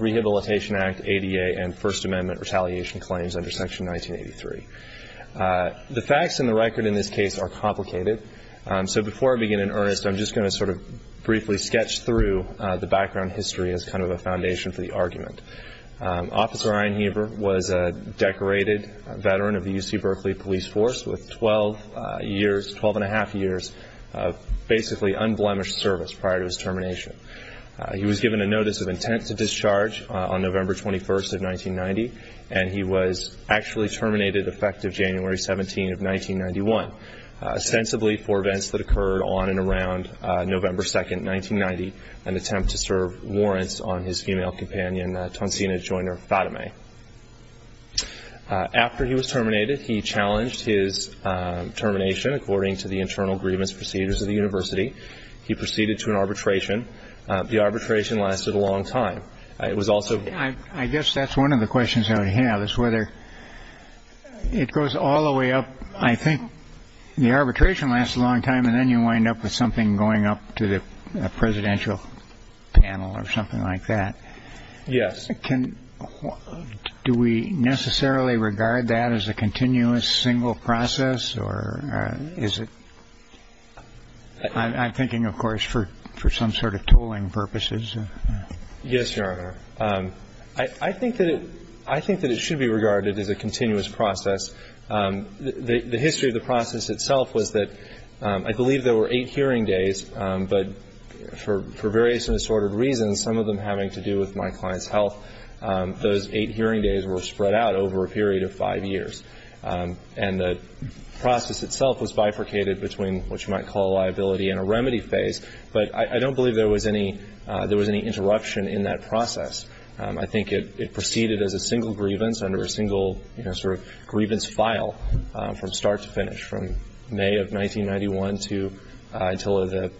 Rehabilitation Act, ADA, and First Amendment Retaliation Claims under Section 1983 Rehabilitation Act, ADA, and First Amendment Retaliation Claims under Section 1983 The facts and the record in this case are complicated, so before I begin in earnest, I'm just going to sort of briefly sketch through the background history as kind of a foundation for the argument. Officer Ian Heber was a decorated veteran of the UC Berkeley Police Force with 12 years, 12 1⁄2 years, of basically unblemished service prior to his termination. He was given a notice of intent to discharge on November 21, 1990, and he was actually terminated effective January 17, 1991, ostensibly for events that occurred on and around November 2, 1990, an attempt to serve warrants on his female companion, Tansina Joiner Fatemeh. After he was terminated, he challenged his termination according to the internal grievance procedures of the university. He proceeded to an arbitration. The arbitration lasted a long time. I guess that's one of the questions I would have is whether it goes all the way up. I think the arbitration lasts a long time, and then you wind up with something going up to the presidential panel or something like that. Yes. Do we necessarily regard that as a continuous single process, or is it? I'm thinking, of course, for some sort of tooling purposes. Yes, Your Honor. I think that it should be regarded as a continuous process. The history of the process itself was that I believe there were eight hearing days, but for various and disordered reasons, some of them having to do with my client's health, those eight hearing days were spread out over a period of five years. And the process itself was bifurcated between what you might call a liability and a remedy phase, but I don't believe there was any interruption in that process. I think it proceeded as a single grievance under a single sort of grievance file from start to finish, from May of 1991 to until the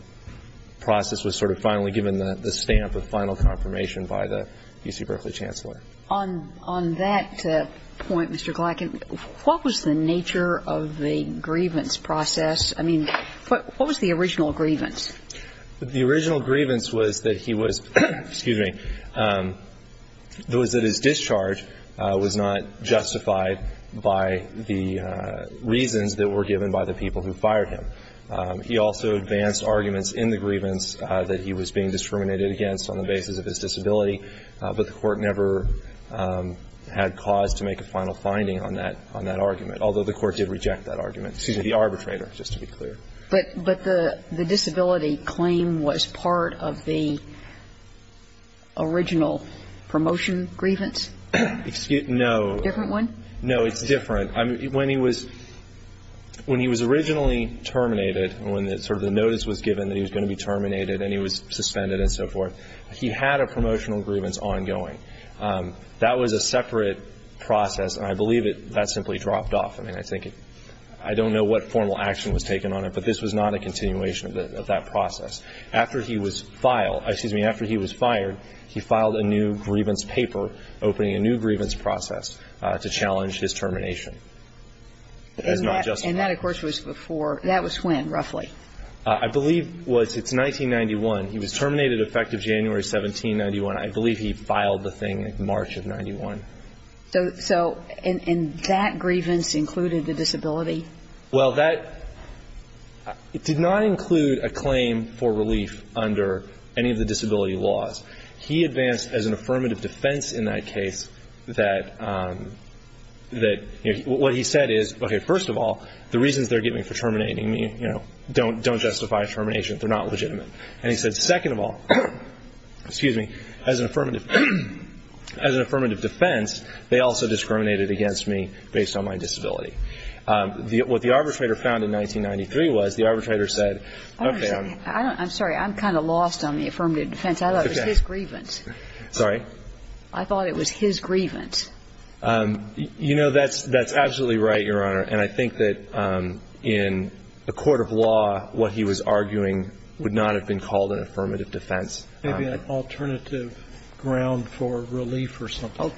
process was sort of finally given the stamp of final confirmation by the UC Berkeley Chancellor. On that point, Mr. Glackin, what was the nature of the grievance process? I mean, what was the original grievance? The original grievance was that he was, excuse me, was that his discharge was not justified by the reasons that were given by the people who fired him. He also advanced arguments in the grievance that he was being discriminated against on the basis of his disability, but the Court never had cause to make a final finding on that argument, although the Court did reject that argument, excuse me, the arbitrator, just to be clear. But the disability claim was part of the original promotion grievance? No. A different one? No, it's different. When he was originally terminated, when sort of the notice was given that he was going to be terminated and he was suspended and so forth, he had a promotional grievance ongoing. That was a separate process, and I believe that simply dropped off. I mean, I think it, I don't know what formal action was taken on it, but this was not a continuation of that process. After he was filed, excuse me, after he was fired, he filed a new grievance paper opening a new grievance process to challenge his termination. And that, of course, was before, that was when, roughly? I believe it was, it's 1991. He was terminated effective January 1791. I believe he filed the thing in March of 91. So in that grievance included the disability? Well, that did not include a claim for relief under any of the disability laws. He advanced as an affirmative defense in that case that, you know, what he said is, okay, first of all, the reasons they're giving for terminating me, you know, don't justify termination. They're not legitimate. And he said, second of all, excuse me, as an affirmative defense, they also discriminated against me based on my disability. What the arbitrator found in 1993 was the arbitrator said, okay, I'm. I'm sorry. I'm kind of lost on the affirmative defense. I thought it was his grievance. Sorry? I thought it was his grievance. You know, that's absolutely right, Your Honor. And I think that in the court of law, what he was arguing would not have been called an affirmative defense. Maybe an alternative ground for relief or something.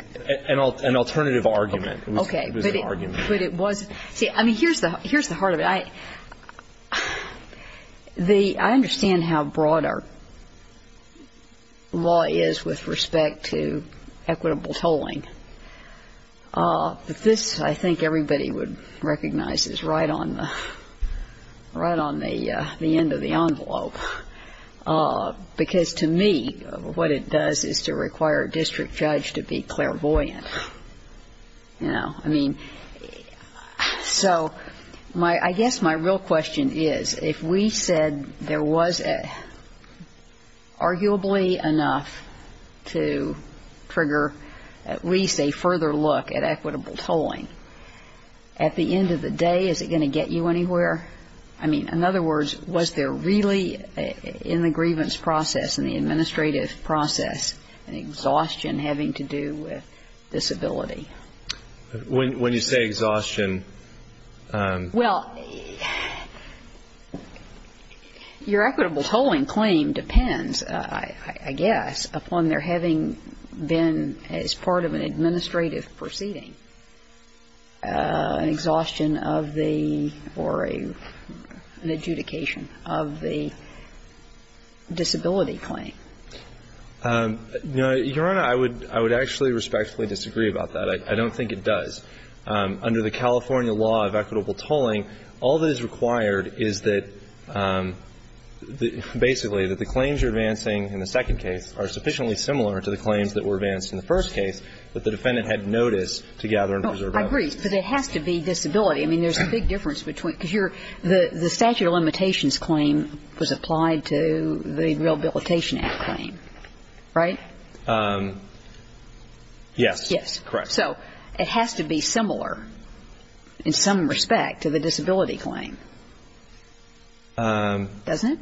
An alternative argument. Okay. But it was. See, I mean, here's the heart of it. I understand how broad our law is with respect to equitable tolling. But this, I think everybody would recognize, is right on the end of the envelope. Because to me, what it does is to require a district judge to be clairvoyant. You know? I mean, so my ‑‑ I guess my real question is, if we said there was arguably enough to trigger at least a further look at equitable tolling, at the end of the day, is it going to get you anywhere? I mean, in other words, was there really in the grievance process, in the administrative process, an exhaustion having to do with disability? When you say exhaustion ‑‑ Well, your equitable tolling claim depends, I guess, upon there having been, as part of an administrative proceeding, exhaustion of the ‑‑ or an adjudication of the disability claim. Your Honor, I would actually respectfully disagree about that. I don't think it does. Under the California law of equitable tolling, all that is required is that basically that the claims you're advancing in the second case are sufficiently similar to the claims that were advanced in the first case that the defendant had noticed to gather and preserve evidence. I agree. But it has to be disability. I mean, there's a big difference between ‑‑ because the statute of limitations claim was applied to the Rehabilitation Act claim. Right? Yes. Yes. Correct. So it has to be similar in some respect to the disability claim. Doesn't it?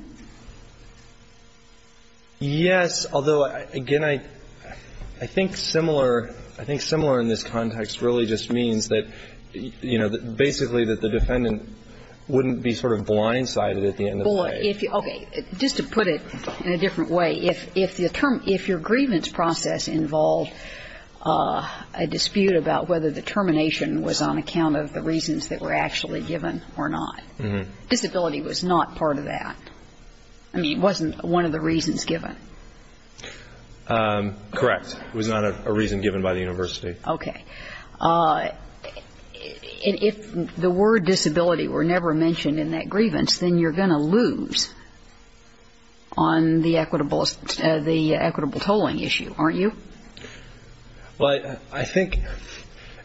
Yes, although, again, I think similar in this context really just means that, you know, basically that the defendant wouldn't be sort of blindsided at the end of the day. Okay. Just to put it in a different way, if your grievance process involved a dispute about whether the termination was on account of the reasons that were actually given or not, disability was not part of that. I mean, it wasn't one of the reasons given. Correct. It was not a reason given by the university. Okay. If the word disability were never mentioned in that grievance, then you're going to lose on the equitable tolling issue, aren't you? Well, I think,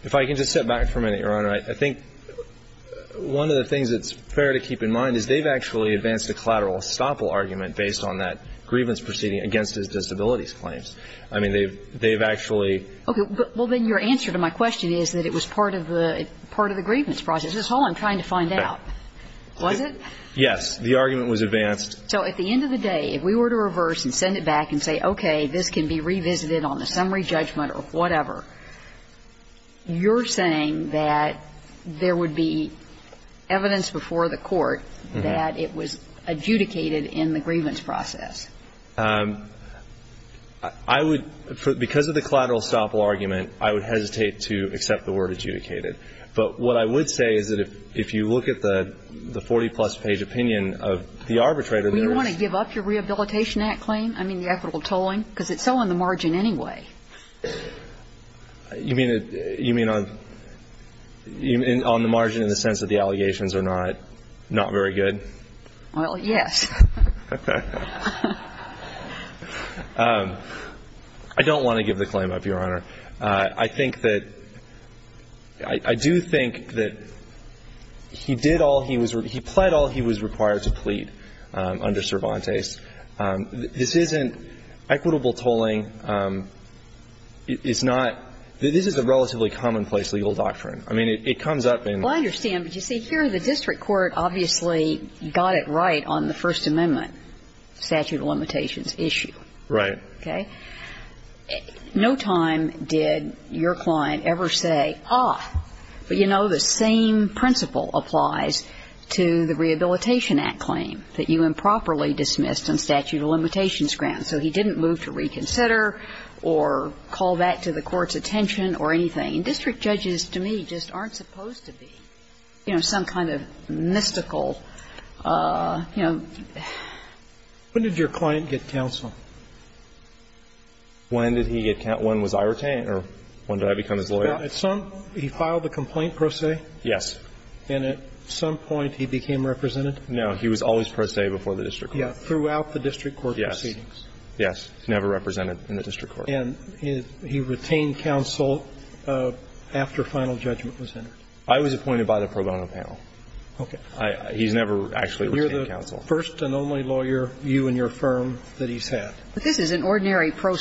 if I can just step back for a minute, Your Honor, I think one of the things that's fair to keep in mind is they've actually advanced a collateral estoppel argument based on that grievance proceeding against his disabilities claims. I mean, they've actually ‑‑ Okay. Well, then your answer to my question is that it was part of the grievance process. That's all I'm trying to find out. Was it? Yes. The argument was advanced. So at the end of the day, if we were to reverse and send it back and say, okay, this can be revisited on the summary judgment or whatever, you're saying that there would be evidence before the court that it was adjudicated in the grievance process. I would ‑‑ because of the collateral estoppel argument, I would hesitate to accept the word adjudicated. But what I would say is that if you look at the 40‑plus page opinion of the arbitrator, there is ‑‑ Well, you want to give up your Rehabilitation Act claim? I mean, the equitable tolling? Because it's so on the margin anyway. You mean on the margin in the sense that the allegations are not very good? Well, yes. I don't want to give the claim up, Your Honor. I think that ‑‑ I do think that he did all he was ‑‑ he pled all he was required to plead under Cervantes. This isn't equitable tolling. It's not ‑‑ this is a relatively commonplace legal doctrine. I mean, it comes up in ‑‑ Well, I understand. But, you see, here the district court obviously got it right on the First Amendment statute of limitations issue. Right. Okay? No time did your client ever say, ah, but, you know, the same principle applies to the Rehabilitation Act claim that you improperly dismissed on statute of limitations grounds. So he didn't move to reconsider or call that to the court's attention or anything. I mean, district judges to me just aren't supposed to be, you know, some kind of mystical, you know ‑‑ When did your client get counsel? When did he get counsel? When was I retained or when did I become his lawyer? Well, at some point he filed a complaint pro se. Yes. And at some point he became represented? No. He was always pro se before the district court. Yes. Throughout the district court proceedings? Yes. Yes. Never represented in the district court. And he retained counsel after final judgment was entered? I was appointed by the pro bono panel. Okay. He's never actually retained counsel. You're the first and only lawyer, you and your firm, that he's had. But this is an ordinary pro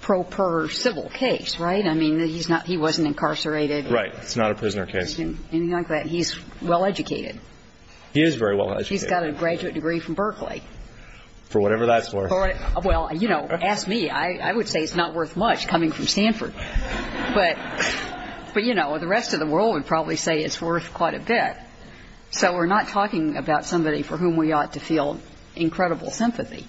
per civil case, right? I mean, he's not ‑‑ he wasn't incarcerated. Right. It's not a prisoner case. Anything like that. He's well educated. He is very well educated. He's got a graduate degree from Berkeley. For whatever that's worth. Well, you know, ask me. I would say it's not worth much coming from Stanford. But, you know, the rest of the world would probably say it's worth quite a bit. So we're not talking about somebody for whom we ought to feel incredible sympathy.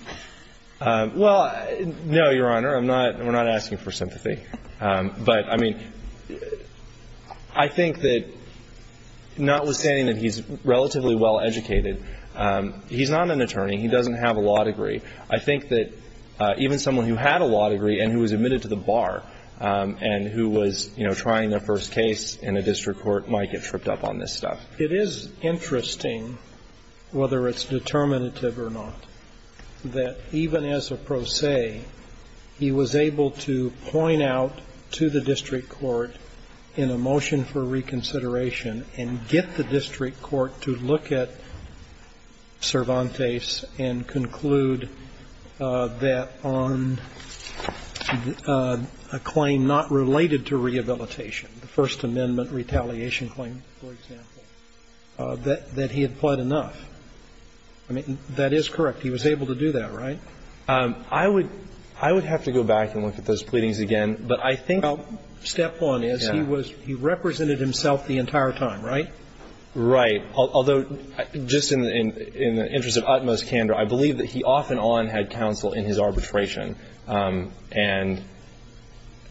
Well, no, Your Honor. I'm not ‑‑ we're not asking for sympathy. But, I mean, I think that notwithstanding that he's relatively well educated, he's not an attorney. He doesn't have a law degree. I think that even someone who had a law degree and who was admitted to the bar and who was, you know, trying their first case in a district court might get tripped up on this stuff. It is interesting, whether it's determinative or not, that even as a pro se, he was able to point out to the district court in a motion for reconsideration and get the district court to look at Cervantes and conclude that on a claim not related to rehabilitation, the First Amendment retaliation claim, for example, that he had pled enough. I mean, that is correct. He was able to do that, right? I would have to go back and look at those pleadings again. But I think ‑‑ Yeah. He represented himself the entire time. Right? Right. Although, just in the interest of utmost candor, I believe that he off and on had counsel in his arbitration. And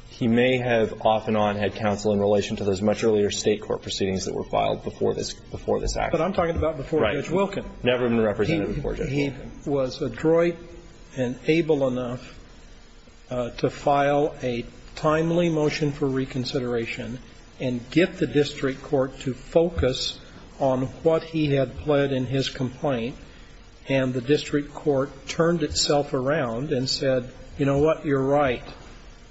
he may have off and on had counsel in relation to those much earlier State court proceedings that were filed before this act. But I'm talking about before Judge Wilken. Right. Never been represented before Judge Wilken. He was adroit and able enough to file a timely motion for reconsideration and get the district court to focus on what he had pled in his complaint. And the district court turned itself around and said, you know what? You're right.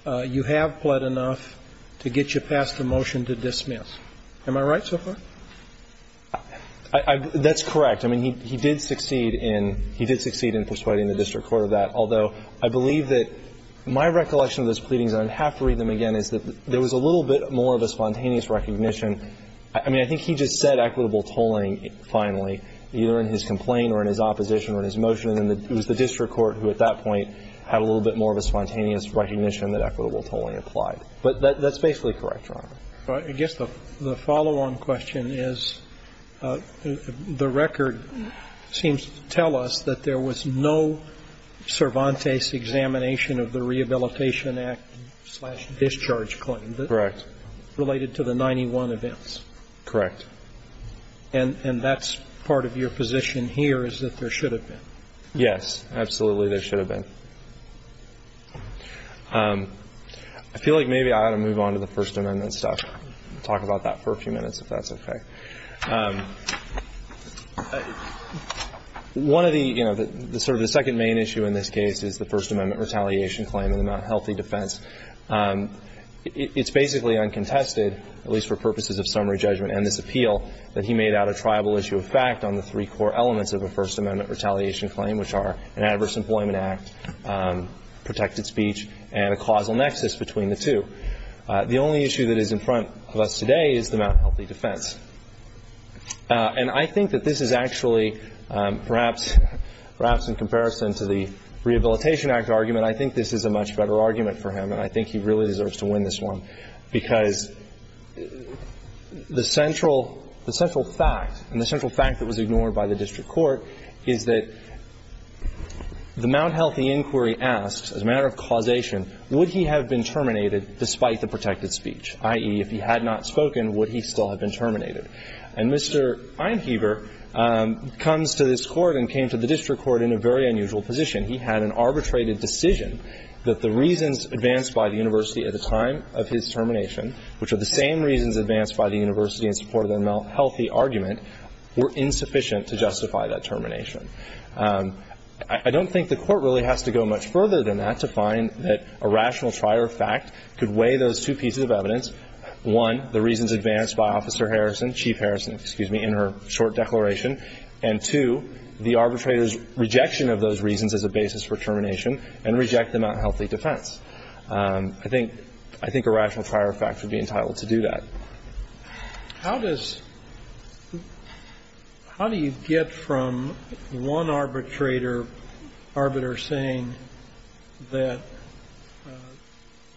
You have pled enough to get you past the motion to dismiss. Am I right so far? That's correct. I mean, he did succeed in ‑‑ he did succeed in persuading the district court of that. Although, I believe that my recollection of those pleadings, and I'd have to read them again, is that there was a little bit more of a spontaneous recognition. I mean, I think he just said equitable tolling finally, either in his complaint or in his opposition or in his motion. And it was the district court who at that point had a little bit more of a spontaneous But that's basically correct, Your Honor. I guess the follow-on question is the record seems to tell us that there was no Cervantes examination of the Rehabilitation Act slash discharge claim. Correct. Related to the 91 events. Correct. And that's part of your position here is that there should have been. Yes. Absolutely, there should have been. I feel like maybe I ought to move on to the First Amendment stuff. We'll talk about that for a few minutes, if that's okay. One of the, you know, sort of the second main issue in this case is the First Amendment retaliation claim in the Mt. Healthy defense. It's basically uncontested, at least for purposes of summary judgment and this appeal, that he made out a tribal issue of fact on the three core elements of a First Amendment retaliation claim, which are an adverse employment act, protected speech, and a causal nexus between the two. The only issue that is in front of us today is the Mt. Healthy defense. And I think that this is actually perhaps in comparison to the Rehabilitation Act argument, I think this is a much better argument for him, and I think he really deserves to win this one, because the central fact and the central fact that was ignored by the district court is that the Mt. Healthy inquiry asked, as a matter of causation, would he have been terminated despite the protected speech? I.e., if he had not spoken, would he still have been terminated? And Mr. Einheber comes to this Court and came to the district court in a very unusual position. He had an arbitrated decision that the reasons advanced by the university at the time of his termination, which are the same reasons advanced by the university in support of the Mt. Healthy argument, were insufficient to justify that termination. I don't think the Court really has to go much further than that to find that a rational trier of fact could weigh those two pieces of evidence. One, the reasons advanced by Officer Harrison, Chief Harrison, excuse me, in her short declaration, and two, the arbitrator's rejection of those reasons as a basis for termination and reject the Mt. Healthy defense. I think a rational trier of fact would be entitled to do that. How does, how do you get from one arbitrator, arbiter saying that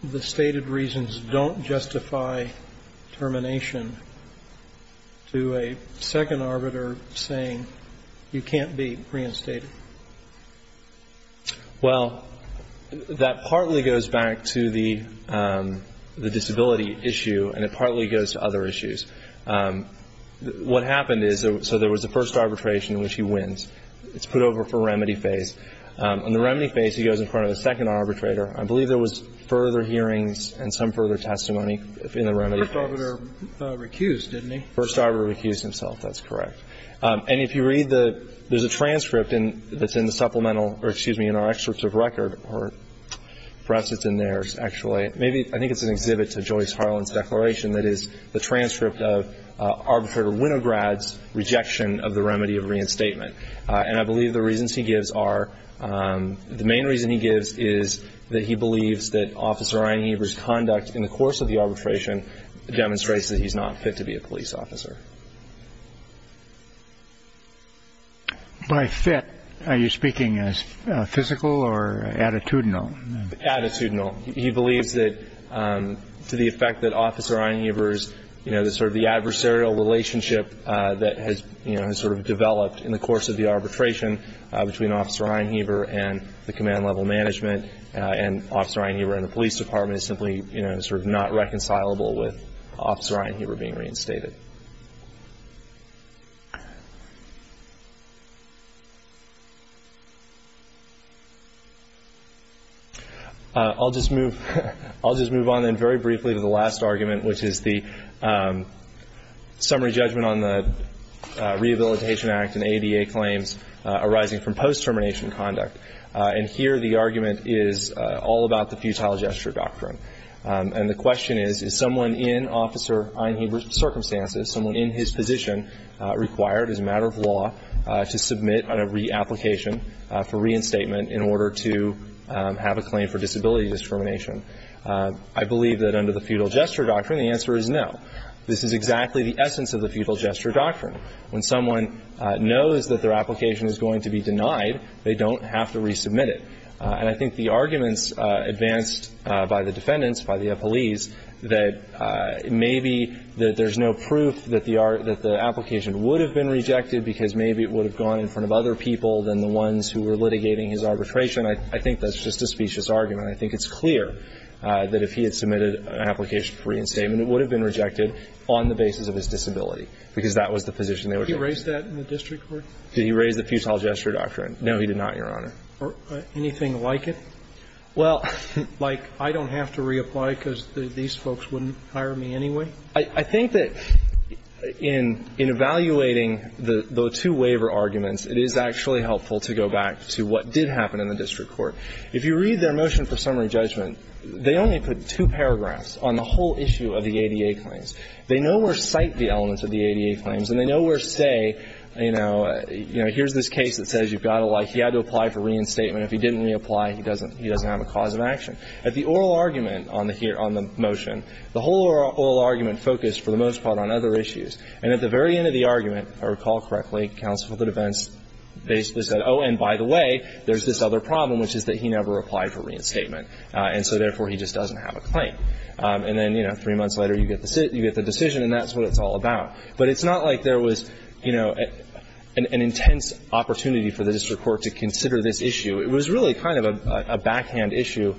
the stated reasons don't justify termination to a second arbiter saying you can't be reinstated? Well, that partly goes back to the disability issue, and it partly goes to other issues. What happened is, so there was a first arbitration in which he wins. It's put over for remedy phase. On the remedy phase, he goes in front of the second arbitrator. I believe there was further hearings and some further testimony in the remedy phase. First arbiter recused, didn't he? First arbiter recused himself. That's correct. And if you read the, there's a transcript that's in the supplemental, or excuse me, in our excerpts of record, or perhaps it's in there, actually. Maybe, I think it's an exhibit to Joyce Harlan's declaration that is the transcript of arbitrator Winograd's rejection of the remedy of reinstatement. And I believe the reasons he gives are, the main reason he gives is that he believes that Officer Einheber's conduct in the course of the arbitration demonstrates that he's not fit to be a police officer. By fit, are you speaking as physical or attitudinal? Attitudinal. He believes that to the effect that Officer Einheber's, you know, sort of the adversarial relationship that has, you know, sort of developed in the course of the arbitration between Officer Einheber and the command level management and Officer Einheber and the police department is simply, you know, sort of not reconcilable with Officer Einheber being reinstated. I'll just move, I'll just move on then very briefly to the last argument, which is the summary judgment on the Rehabilitation Act and ADA claims arising from post-termination conduct. And here the argument is all about the futile gesture doctrine. And the question is, is someone in Officer Einheber's circumstances, someone in his position required as a matter of law to submit on a reapplication for reinstatement in order to have a claim for disability discrimination? I believe that under the futile gesture doctrine, the answer is no. This is exactly the essence of the futile gesture doctrine. When someone knows that their application is going to be denied, they don't have to resubmit it. And I think the arguments advanced by the defendants, by the police, that maybe that there's no proof that the application would have been rejected because maybe it would have gone in front of other people than the ones who were litigating his arbitration, I think that's just a specious argument. I think it's clear that if he had submitted an application for reinstatement, it would have been rejected on the basis of his disability because that was the position they were trying to make. Did he raise that in the district court? Did he raise the futile gesture doctrine? No, he did not, Your Honor. Anything like it? Well, like I don't have to reapply because these folks wouldn't hire me anyway? I think that in evaluating the two waiver arguments, it is actually helpful to go back to what did happen in the district court. If you read their motion for summary judgment, they only put two paragraphs on the whole issue of the ADA claims. They nowhere cite the elements of the ADA claims, and they nowhere say, you know, here's this case that says you've got to like he had to apply for reinstatement. If he didn't reapply, he doesn't have a cause of action. At the oral argument on the motion, the whole oral argument focused for the most part on other issues. And at the very end of the argument, if I recall correctly, counsel to defense basically said, oh, and by the way, there's this other problem, which is that he never applied for reinstatement. And so, therefore, he just doesn't have a claim. And then, you know, three months later, you get the decision, and that's what it's all about. But it's not like there was, you know, an intense opportunity for the district court to consider this issue. It was really kind of a backhand issue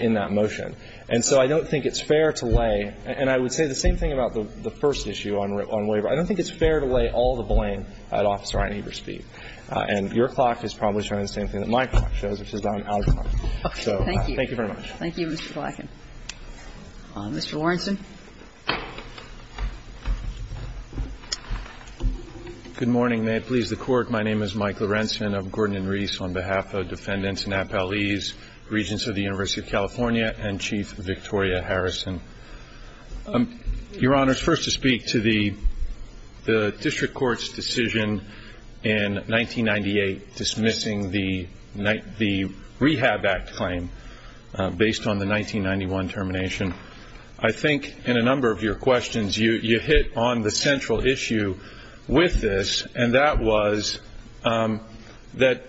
in that motion. And so I don't think it's fair to lay, and I would say the same thing about the first issue on waiver. I don't think it's fair to lay all the blame at Officer Ryan Evers' feet. And your clock is probably showing the same thing that my clock shows, which is that I'm out of time. So thank you very much. Thank you, Mr. Blacken. Mr. Warrenson. Good morning. May it please the Court. My name is Mike Lorenzen. I'm Gordon and Reese on behalf of defendants and appellees, Regents of the University of California, and Chief Victoria Harrison. Your Honor, it's first to speak to the district court's decision in 1998 dismissing the Rehab Act claim based on the 1991 termination. I think, in a number of your questions, you hit on the central issue with this, and that was that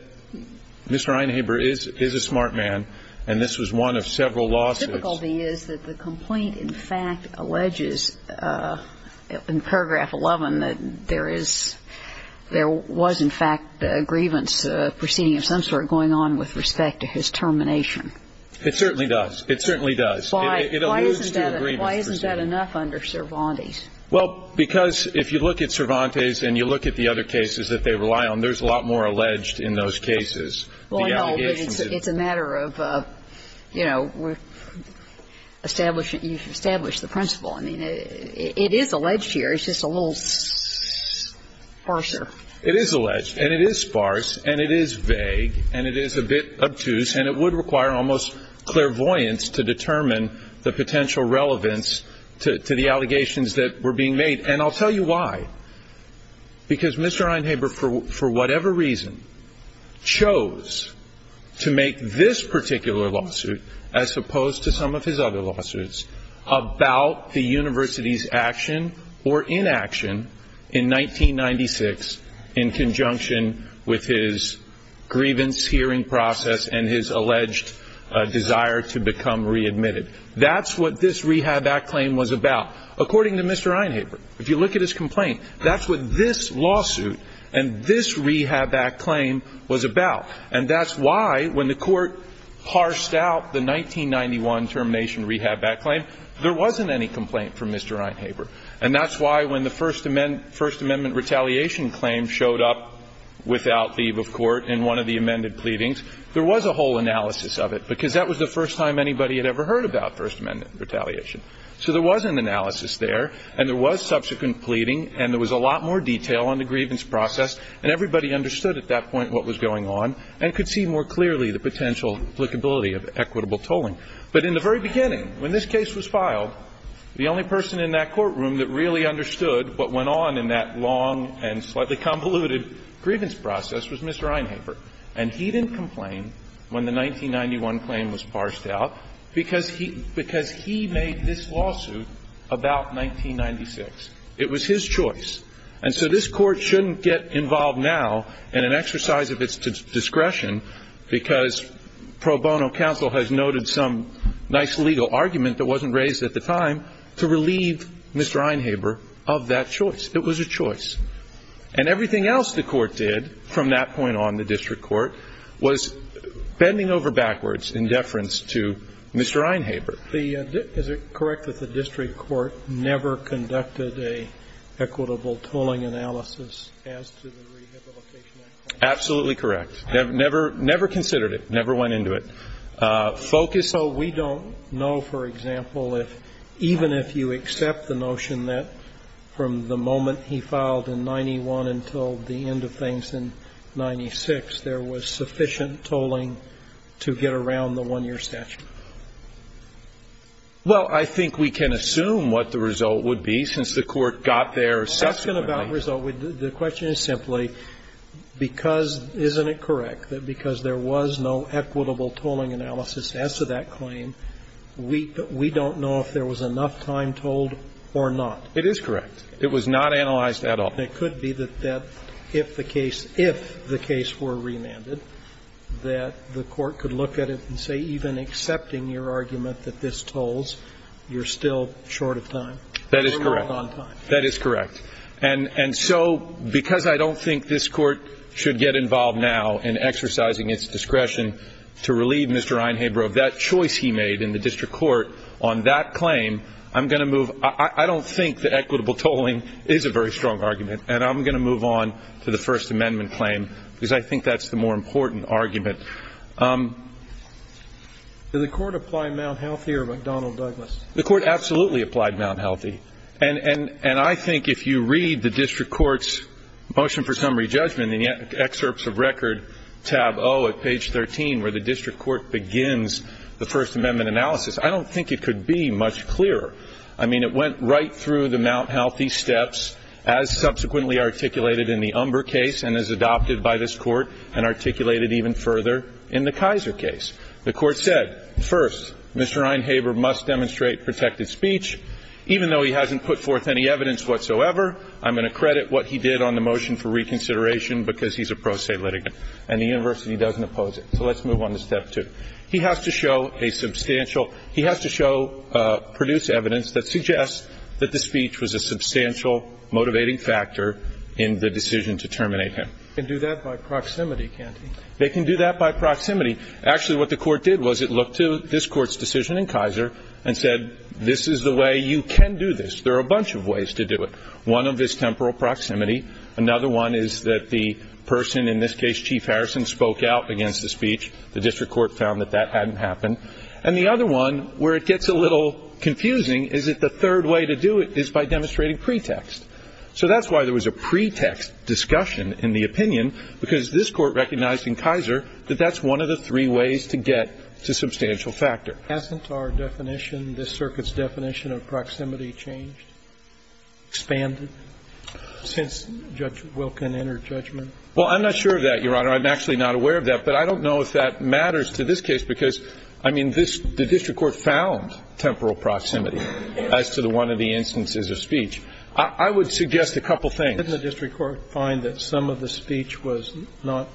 Mr. Einhaber is a smart man, and this was one of several lawsuits. The difficulty is that the complaint, in fact, alleges in paragraph 11 that there was, in fact, a grievance proceeding of some sort going on with respect to his termination. It certainly does. It certainly does. Why isn't that enough under Cervantes? Well, because if you look at Cervantes and you look at the other cases that they rely on, there's a lot more alleged in those cases. Well, no, but it's a matter of, you know, establishing the principle. I mean, it is alleged here. It's just a little sparser. It is alleged, and it is sparse, and it is vague, and it is a bit obtuse, and it would require almost clairvoyance to determine the potential relevance to the allegations that were being made, and I'll tell you why. Because Mr. Einhaber, for whatever reason, chose to make this particular lawsuit, as in 1996, in conjunction with his grievance hearing process and his alleged desire to become readmitted. That's what this Rehab Act claim was about. According to Mr. Einhaber, if you look at his complaint, that's what this lawsuit and this Rehab Act claim was about. And that's why, when the Court parsed out the 1991 termination Rehab Act claim, there wasn't any complaint from Mr. Einhaber. And that's why, when the First Amendment retaliation claim showed up without leave of court in one of the amended pleadings, there was a whole analysis of it, because that was the first time anybody had ever heard about First Amendment retaliation. So there was an analysis there, and there was subsequent pleading, and there was a lot more detail on the grievance process, and everybody understood at that point what was going on and could see more clearly the potential applicability of equitable tolling. But in the very beginning, when this case was filed, the only person in that courtroom that really understood what went on in that long and slightly convoluted grievance process was Mr. Einhaber. And he didn't complain when the 1991 claim was parsed out because he made this lawsuit about 1996. It was his choice. And so this Court shouldn't get involved now in an exercise of its discretion because pro bono counsel has noted some nice legal argument that wasn't raised at the time to relieve Mr. Einhaber of that choice. It was a choice. And everything else the Court did from that point on, the district court, was bending over backwards in deference to Mr. Einhaber. Is it correct that the district court never conducted an equitable tolling analysis as to the Rehabilitation Act? Absolutely correct. Never considered it. Never went into it. So we don't know, for example, if even if you accept the notion that from the moment he filed in 91 until the end of things in 96, there was sufficient tolling to get around the 1-year statute? Well, I think we can assume what the result would be since the Court got there subsequently. The question is simply, because isn't it correct that because there was no equitable tolling analysis as to that claim, we don't know if there was enough time tolled or not? It is correct. It was not analyzed at all. It could be that if the case, if the case were remanded, that the Court could look at it and say, even accepting your argument that this tolls, you're still short of time. That is correct. And so because I don't think this Court should get involved now in exercising its discretion to relieve Mr. Einhaber of that choice he made in the district court on that claim, I'm going to move. I don't think that equitable tolling is a very strong argument, and I'm going to move on to the First Amendment claim because I think that's the more important argument. Did the Court apply Mount Healthy or McDonnell-Douglas? The Court absolutely applied Mount Healthy. And I think if you read the district court's motion for summary judgment in the excerpts of record tab O at page 13 where the district court begins the First Amendment analysis, I don't think it could be much clearer. I mean, it went right through the Mount Healthy steps as subsequently articulated in the Umber case and as adopted by this Court and articulated even further in the Kaiser case. The Court said, first, Mr. Einhaber must demonstrate protected speech even though he hasn't put forth any evidence whatsoever. I'm going to credit what he did on the motion for reconsideration because he's a pro se litigant and the university doesn't oppose it. So let's move on to Step 2. He has to show a substantial – he has to show – produce evidence that suggests that the speech was a substantial motivating factor in the decision to terminate him. They can do that by proximity, can't they? They can do that by proximity. Actually, what the Court did was it looked to this Court's decision in Kaiser and said, this is the way you can do this. There are a bunch of ways to do it. One of is temporal proximity. Another one is that the person, in this case Chief Harrison, spoke out against the speech. The district court found that that hadn't happened. And the other one, where it gets a little confusing, is that the third way to do it is by demonstrating pretext. So that's why there was a pretext discussion in the opinion because this Court recognized in Kaiser that that's one of the three ways to get to substantial factor. But hasn't our definition, this circuit's definition of proximity changed, expanded since Judge Wilken entered judgment? Well, I'm not sure of that, Your Honor. I'm actually not aware of that. But I don't know if that matters to this case because, I mean, this – the district court found temporal proximity as to one of the instances of speech. I would suggest a couple things. Didn't the district court find that some of the speech was not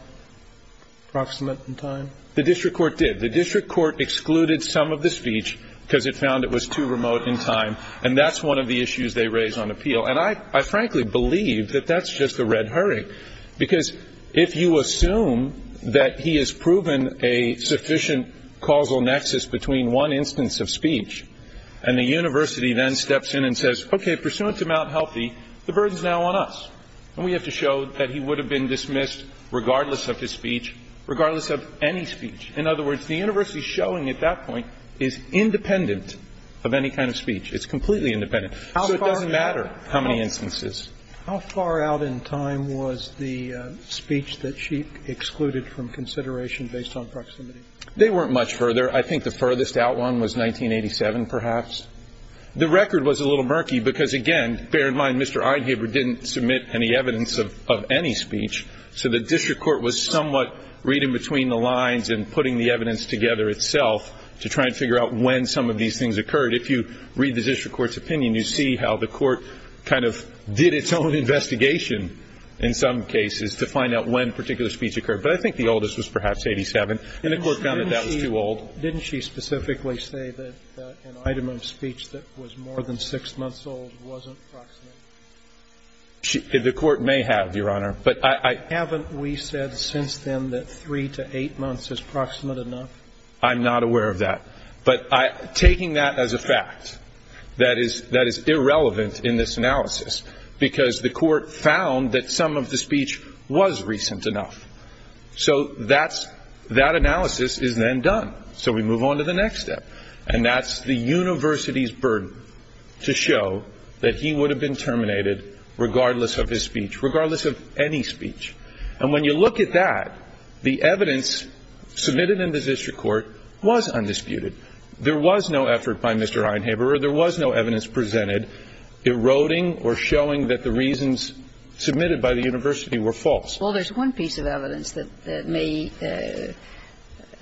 proximate in time? The district court did. The district court excluded some of the speech because it found it was too remote in time. And that's one of the issues they raised on appeal. And I frankly believe that that's just a red herring. Because if you assume that he has proven a sufficient causal nexus between one instance of speech and the university then steps in and says, okay, pursuant to Mount Healthy, the burden's now on us. And we have to show that he would have been dismissed regardless of his speech, regardless of any speech. In other words, the university's showing at that point is independent of any kind of speech. It's completely independent. So it doesn't matter how many instances. How far out in time was the speech that she excluded from consideration based on proximity? They weren't much further. I think the furthest out one was 1987, perhaps. The record was a little murky because, again, bear in mind Mr. Einhaber didn't submit any evidence of any speech. So the district court was somewhat reading between the lines and putting the evidence together itself to try and figure out when some of these things occurred. If you read the district court's opinion, you see how the court kind of did its own investigation in some cases to find out when particular speech occurred. But I think the oldest was perhaps 1987. And the court found that that was too old. Didn't she specifically say that an item of speech that was more than six months old wasn't proximate? The court may have, Your Honor. Haven't we said since then that three to eight months is proximate enough? I'm not aware of that. But taking that as a fact, that is irrelevant in this analysis because the court found that some of the speech was recent enough. So that analysis is then done. So we move on to the next step. And that's the university's burden to show that he would have been terminated regardless of his speech, regardless of any speech. And when you look at that, the evidence submitted in the district court was undisputed. There was no effort by Mr. Einhaber. There was no evidence presented eroding or showing that the reasons submitted by the university were false. Well, there's one piece of evidence that may be,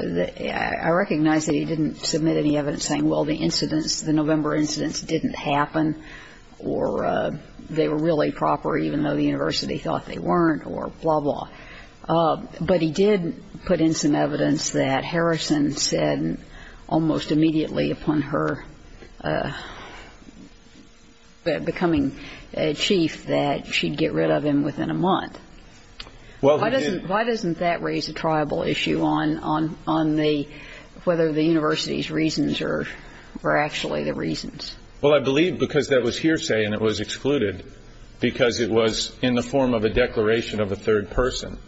I recognize that he didn't submit any evidence saying, well, the incidents, the November incidents didn't happen or they were really proper even though the university thought they weren't or blah, blah. But he did put in some evidence that Harrison said almost immediately upon her becoming chief that she'd get rid of him within a month. Why doesn't that raise a tribal issue on whether the university's reasons are actually the reasons? Well, I believe because that was hearsay and it was excluded because it was in the form of a declaration of a third person.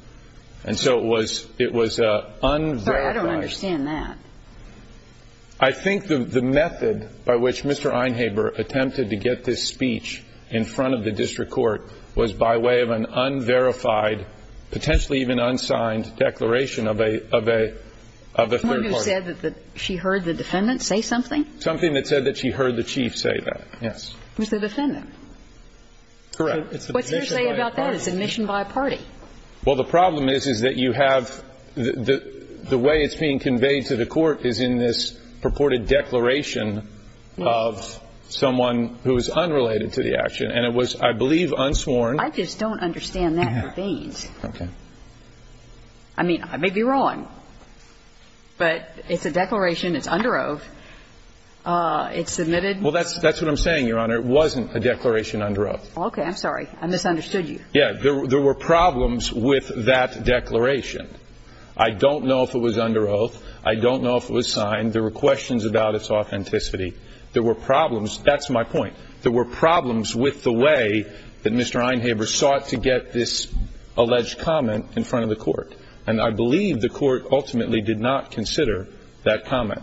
And so it was unverified. Sorry, I don't understand that. I think the method by which Mr. Einhaber attempted to get this speech in front of the district court was by way of an unverified, potentially even unsigned declaration of a third party. Someone who said that she heard the defendant say something? Something that said that she heard the chief say that, yes. It was the defendant. Correct. What's hearsay about that? It's admission by a party. Well, the problem is, is that you have the way it's being conveyed to the court is in this purported declaration of someone who is unrelated to the action. And it was, I believe, unsworn. I just don't understand that. Okay. I mean, I may be wrong, but it's a declaration. It's under oath. It's submitted. Well, that's what I'm saying, Your Honor. It wasn't a declaration under oath. Okay. I'm sorry. I misunderstood you. Yeah. There were problems with that declaration. I don't know if it was under oath. I don't know if it was signed. There were questions about its authenticity. There were problems. That's my point. There were problems with the way that Mr. Einhaber sought to get this alleged comment in front of the court. And I believe the court ultimately did not consider that comment.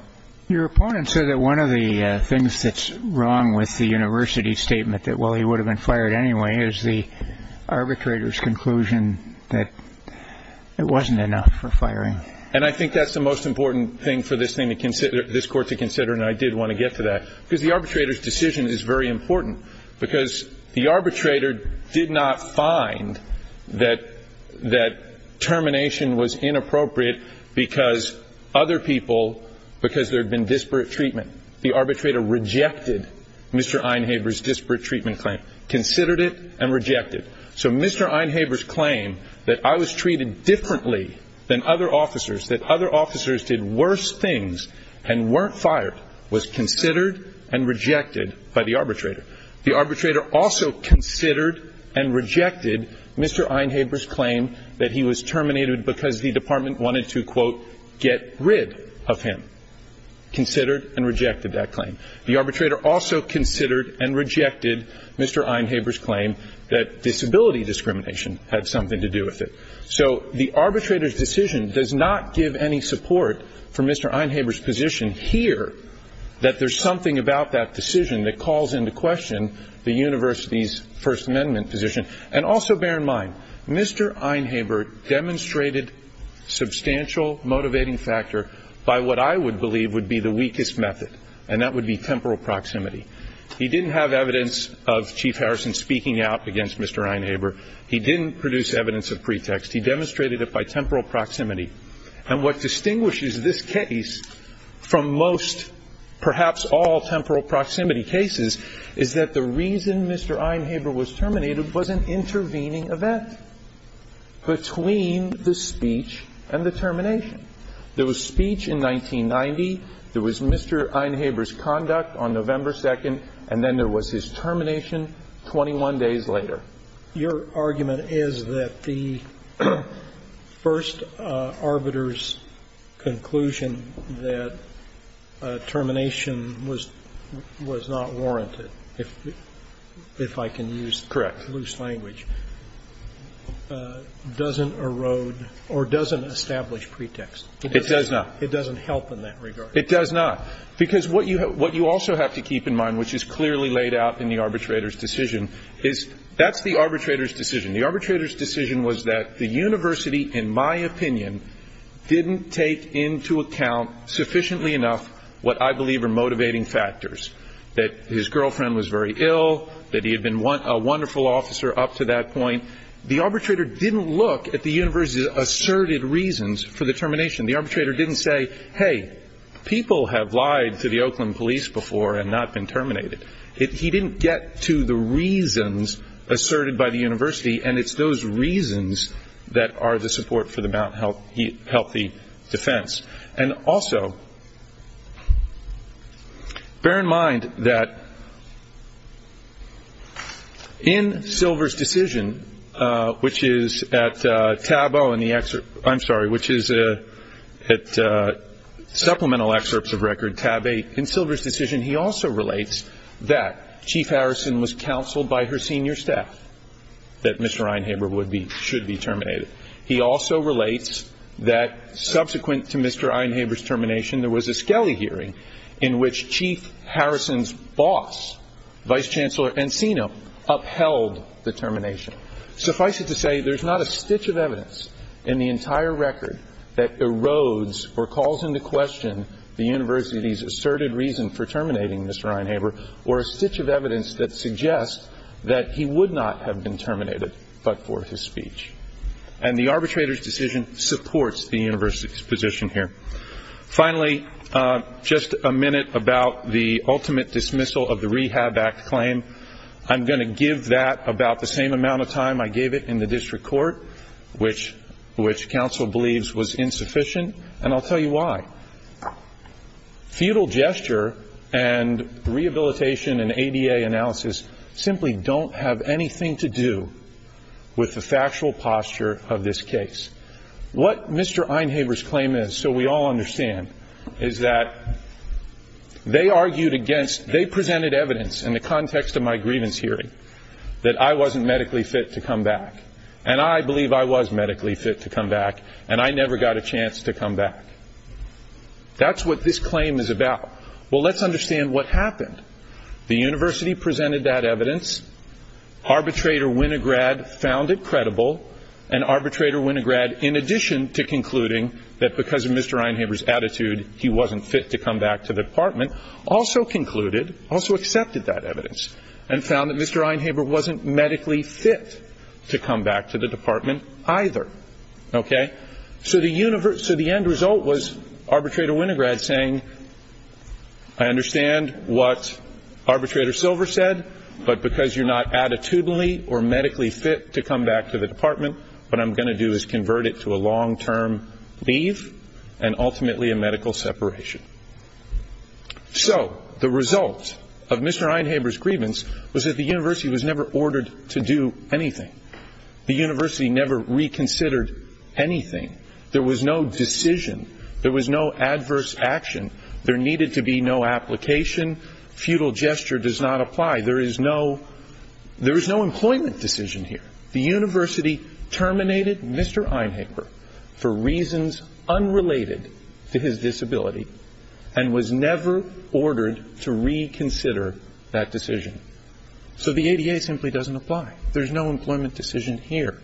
Your opponent said that one of the things that's wrong with the university statement, that, well, he would have been fired anyway, is the arbitrator's conclusion that it wasn't enough for firing. And I think that's the most important thing for this court to consider, and I did want to get to that, because the arbitrator's decision is very important, because the arbitrator did not find that termination was inappropriate because other people, because there had been disparate treatment. The arbitrator rejected Mr. Einhaber's disparate treatment claim, considered it and rejected it. So Mr. Einhaber's claim that I was treated differently than other officers, that other officers did worse things and weren't fired, was considered and rejected by the arbitrator. The arbitrator also considered and rejected Mr. Einhaber's claim that he was terminated because the department wanted to, quote, get rid of him, considered and rejected that claim. The arbitrator also considered and rejected Mr. Einhaber's claim that disability discrimination had something to do with it. So the arbitrator's decision does not give any support for Mr. Einhaber's position here, that there's something about that decision that calls into question the university's First Amendment position. And also bear in mind, Mr. Einhaber demonstrated substantial motivating factor by what I would believe would be the weakest method, and that would be temporal proximity. He didn't have evidence of Chief Harrison speaking out against Mr. Einhaber. He didn't produce evidence of pretext. He demonstrated it by temporal proximity. And what distinguishes this case from most, perhaps all, temporal proximity cases is that the reason Mr. Einhaber was terminated was an intervening event between the speech and the termination. There was speech in 1990, there was Mr. Einhaber's conduct on November 2nd, and then there was his termination 21 days later. Your argument is that the first arbitrator's conclusion that termination was not warranted, if I can use loose language, doesn't erode or doesn't establish pretext. It does not. It doesn't help in that regard. It does not. Because what you also have to keep in mind, which is clearly laid out in the arbitrator's decision, is that's the arbitrator's decision. The arbitrator's decision was that the university, in my opinion, didn't take into account sufficiently enough what I believe are motivating factors, that his girlfriend was very ill, that he had been a wonderful officer up to that point. The arbitrator didn't look at the university's asserted reasons for the termination. The arbitrator didn't say, hey, people have lied to the Oakland police before and not been terminated. He didn't get to the reasons asserted by the university, and it's those reasons that are the support for the Mount Healthy defense. And also, bear in mind that in Silver's decision, which is at tab O in the excerpt, I'm sorry, which is at supplemental excerpts of record tab 8, in Silver's decision, he also relates that Chief Harrison was counseled by her senior staff that Mr. Einhaber should be terminated. He also relates that subsequent to Mr. Einhaber's termination, there was a Skelly hearing in which Chief Harrison's boss, Vice Chancellor Encino, upheld the termination. Suffice it to say, there's not a stitch of evidence in the entire record that erodes or calls into question the university's asserted reason for terminating Mr. Einhaber, or a stitch of evidence that suggests that he would not have been terminated but for his speech. And the arbitrator's decision supports the university's position here. Finally, just a minute about the ultimate dismissal of the Rehab Act claim. I'm going to give that about the same amount of time I gave it in the district court, which counsel believes was insufficient, and I'll tell you why. Feudal gesture and rehabilitation and ADA analysis simply don't have anything to do with the factual posture of this case. What Mr. Einhaber's claim is, so we all understand, is that they argued against, they presented evidence in the context of my grievance hearing that I wasn't medically fit to come back, and I believe I was medically fit to come back, and I never got a chance to come back. That's what this claim is about. Well, let's understand what happened. The university presented that evidence, arbitrator Winograd found it credible, and arbitrator Winograd, in addition to concluding that because of Mr. Einhaber's attitude, he wasn't fit to come back to the department, also concluded, also accepted that evidence and found that Mr. Einhaber wasn't medically fit to come back to the department either. Okay? So the end result was arbitrator Winograd saying, I understand what arbitrator Silver said, but because you're not attitudinally or medically fit to come back to the department, what I'm going to do is convert it to a long-term leave and ultimately a medical separation. So the result of Mr. Einhaber's grievance was that the university was never ordered to do anything. The university never reconsidered anything. There was no decision. There was no adverse action. There needed to be no application. Futile gesture does not apply. There is no employment decision here. The university terminated Mr. Einhaber for reasons unrelated to his disability and was never ordered to reconsider that decision. So the ADA simply doesn't apply. There's no employment decision here.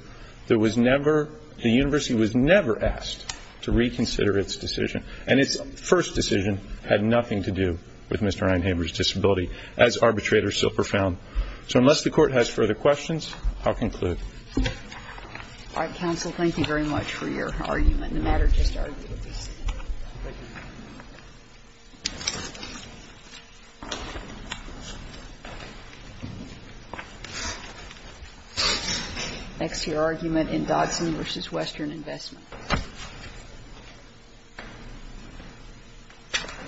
There was never, the university was never asked to reconsider its decision, and its first decision had nothing to do with Mr. Einhaber's disability as arbitrator Silver found. So unless the Court has further questions, I'll conclude. All right. Counsel, thank you very much for your argument. The matter just argued. Thank you. Next, your argument in Dodson v. Western Investment. Thank you.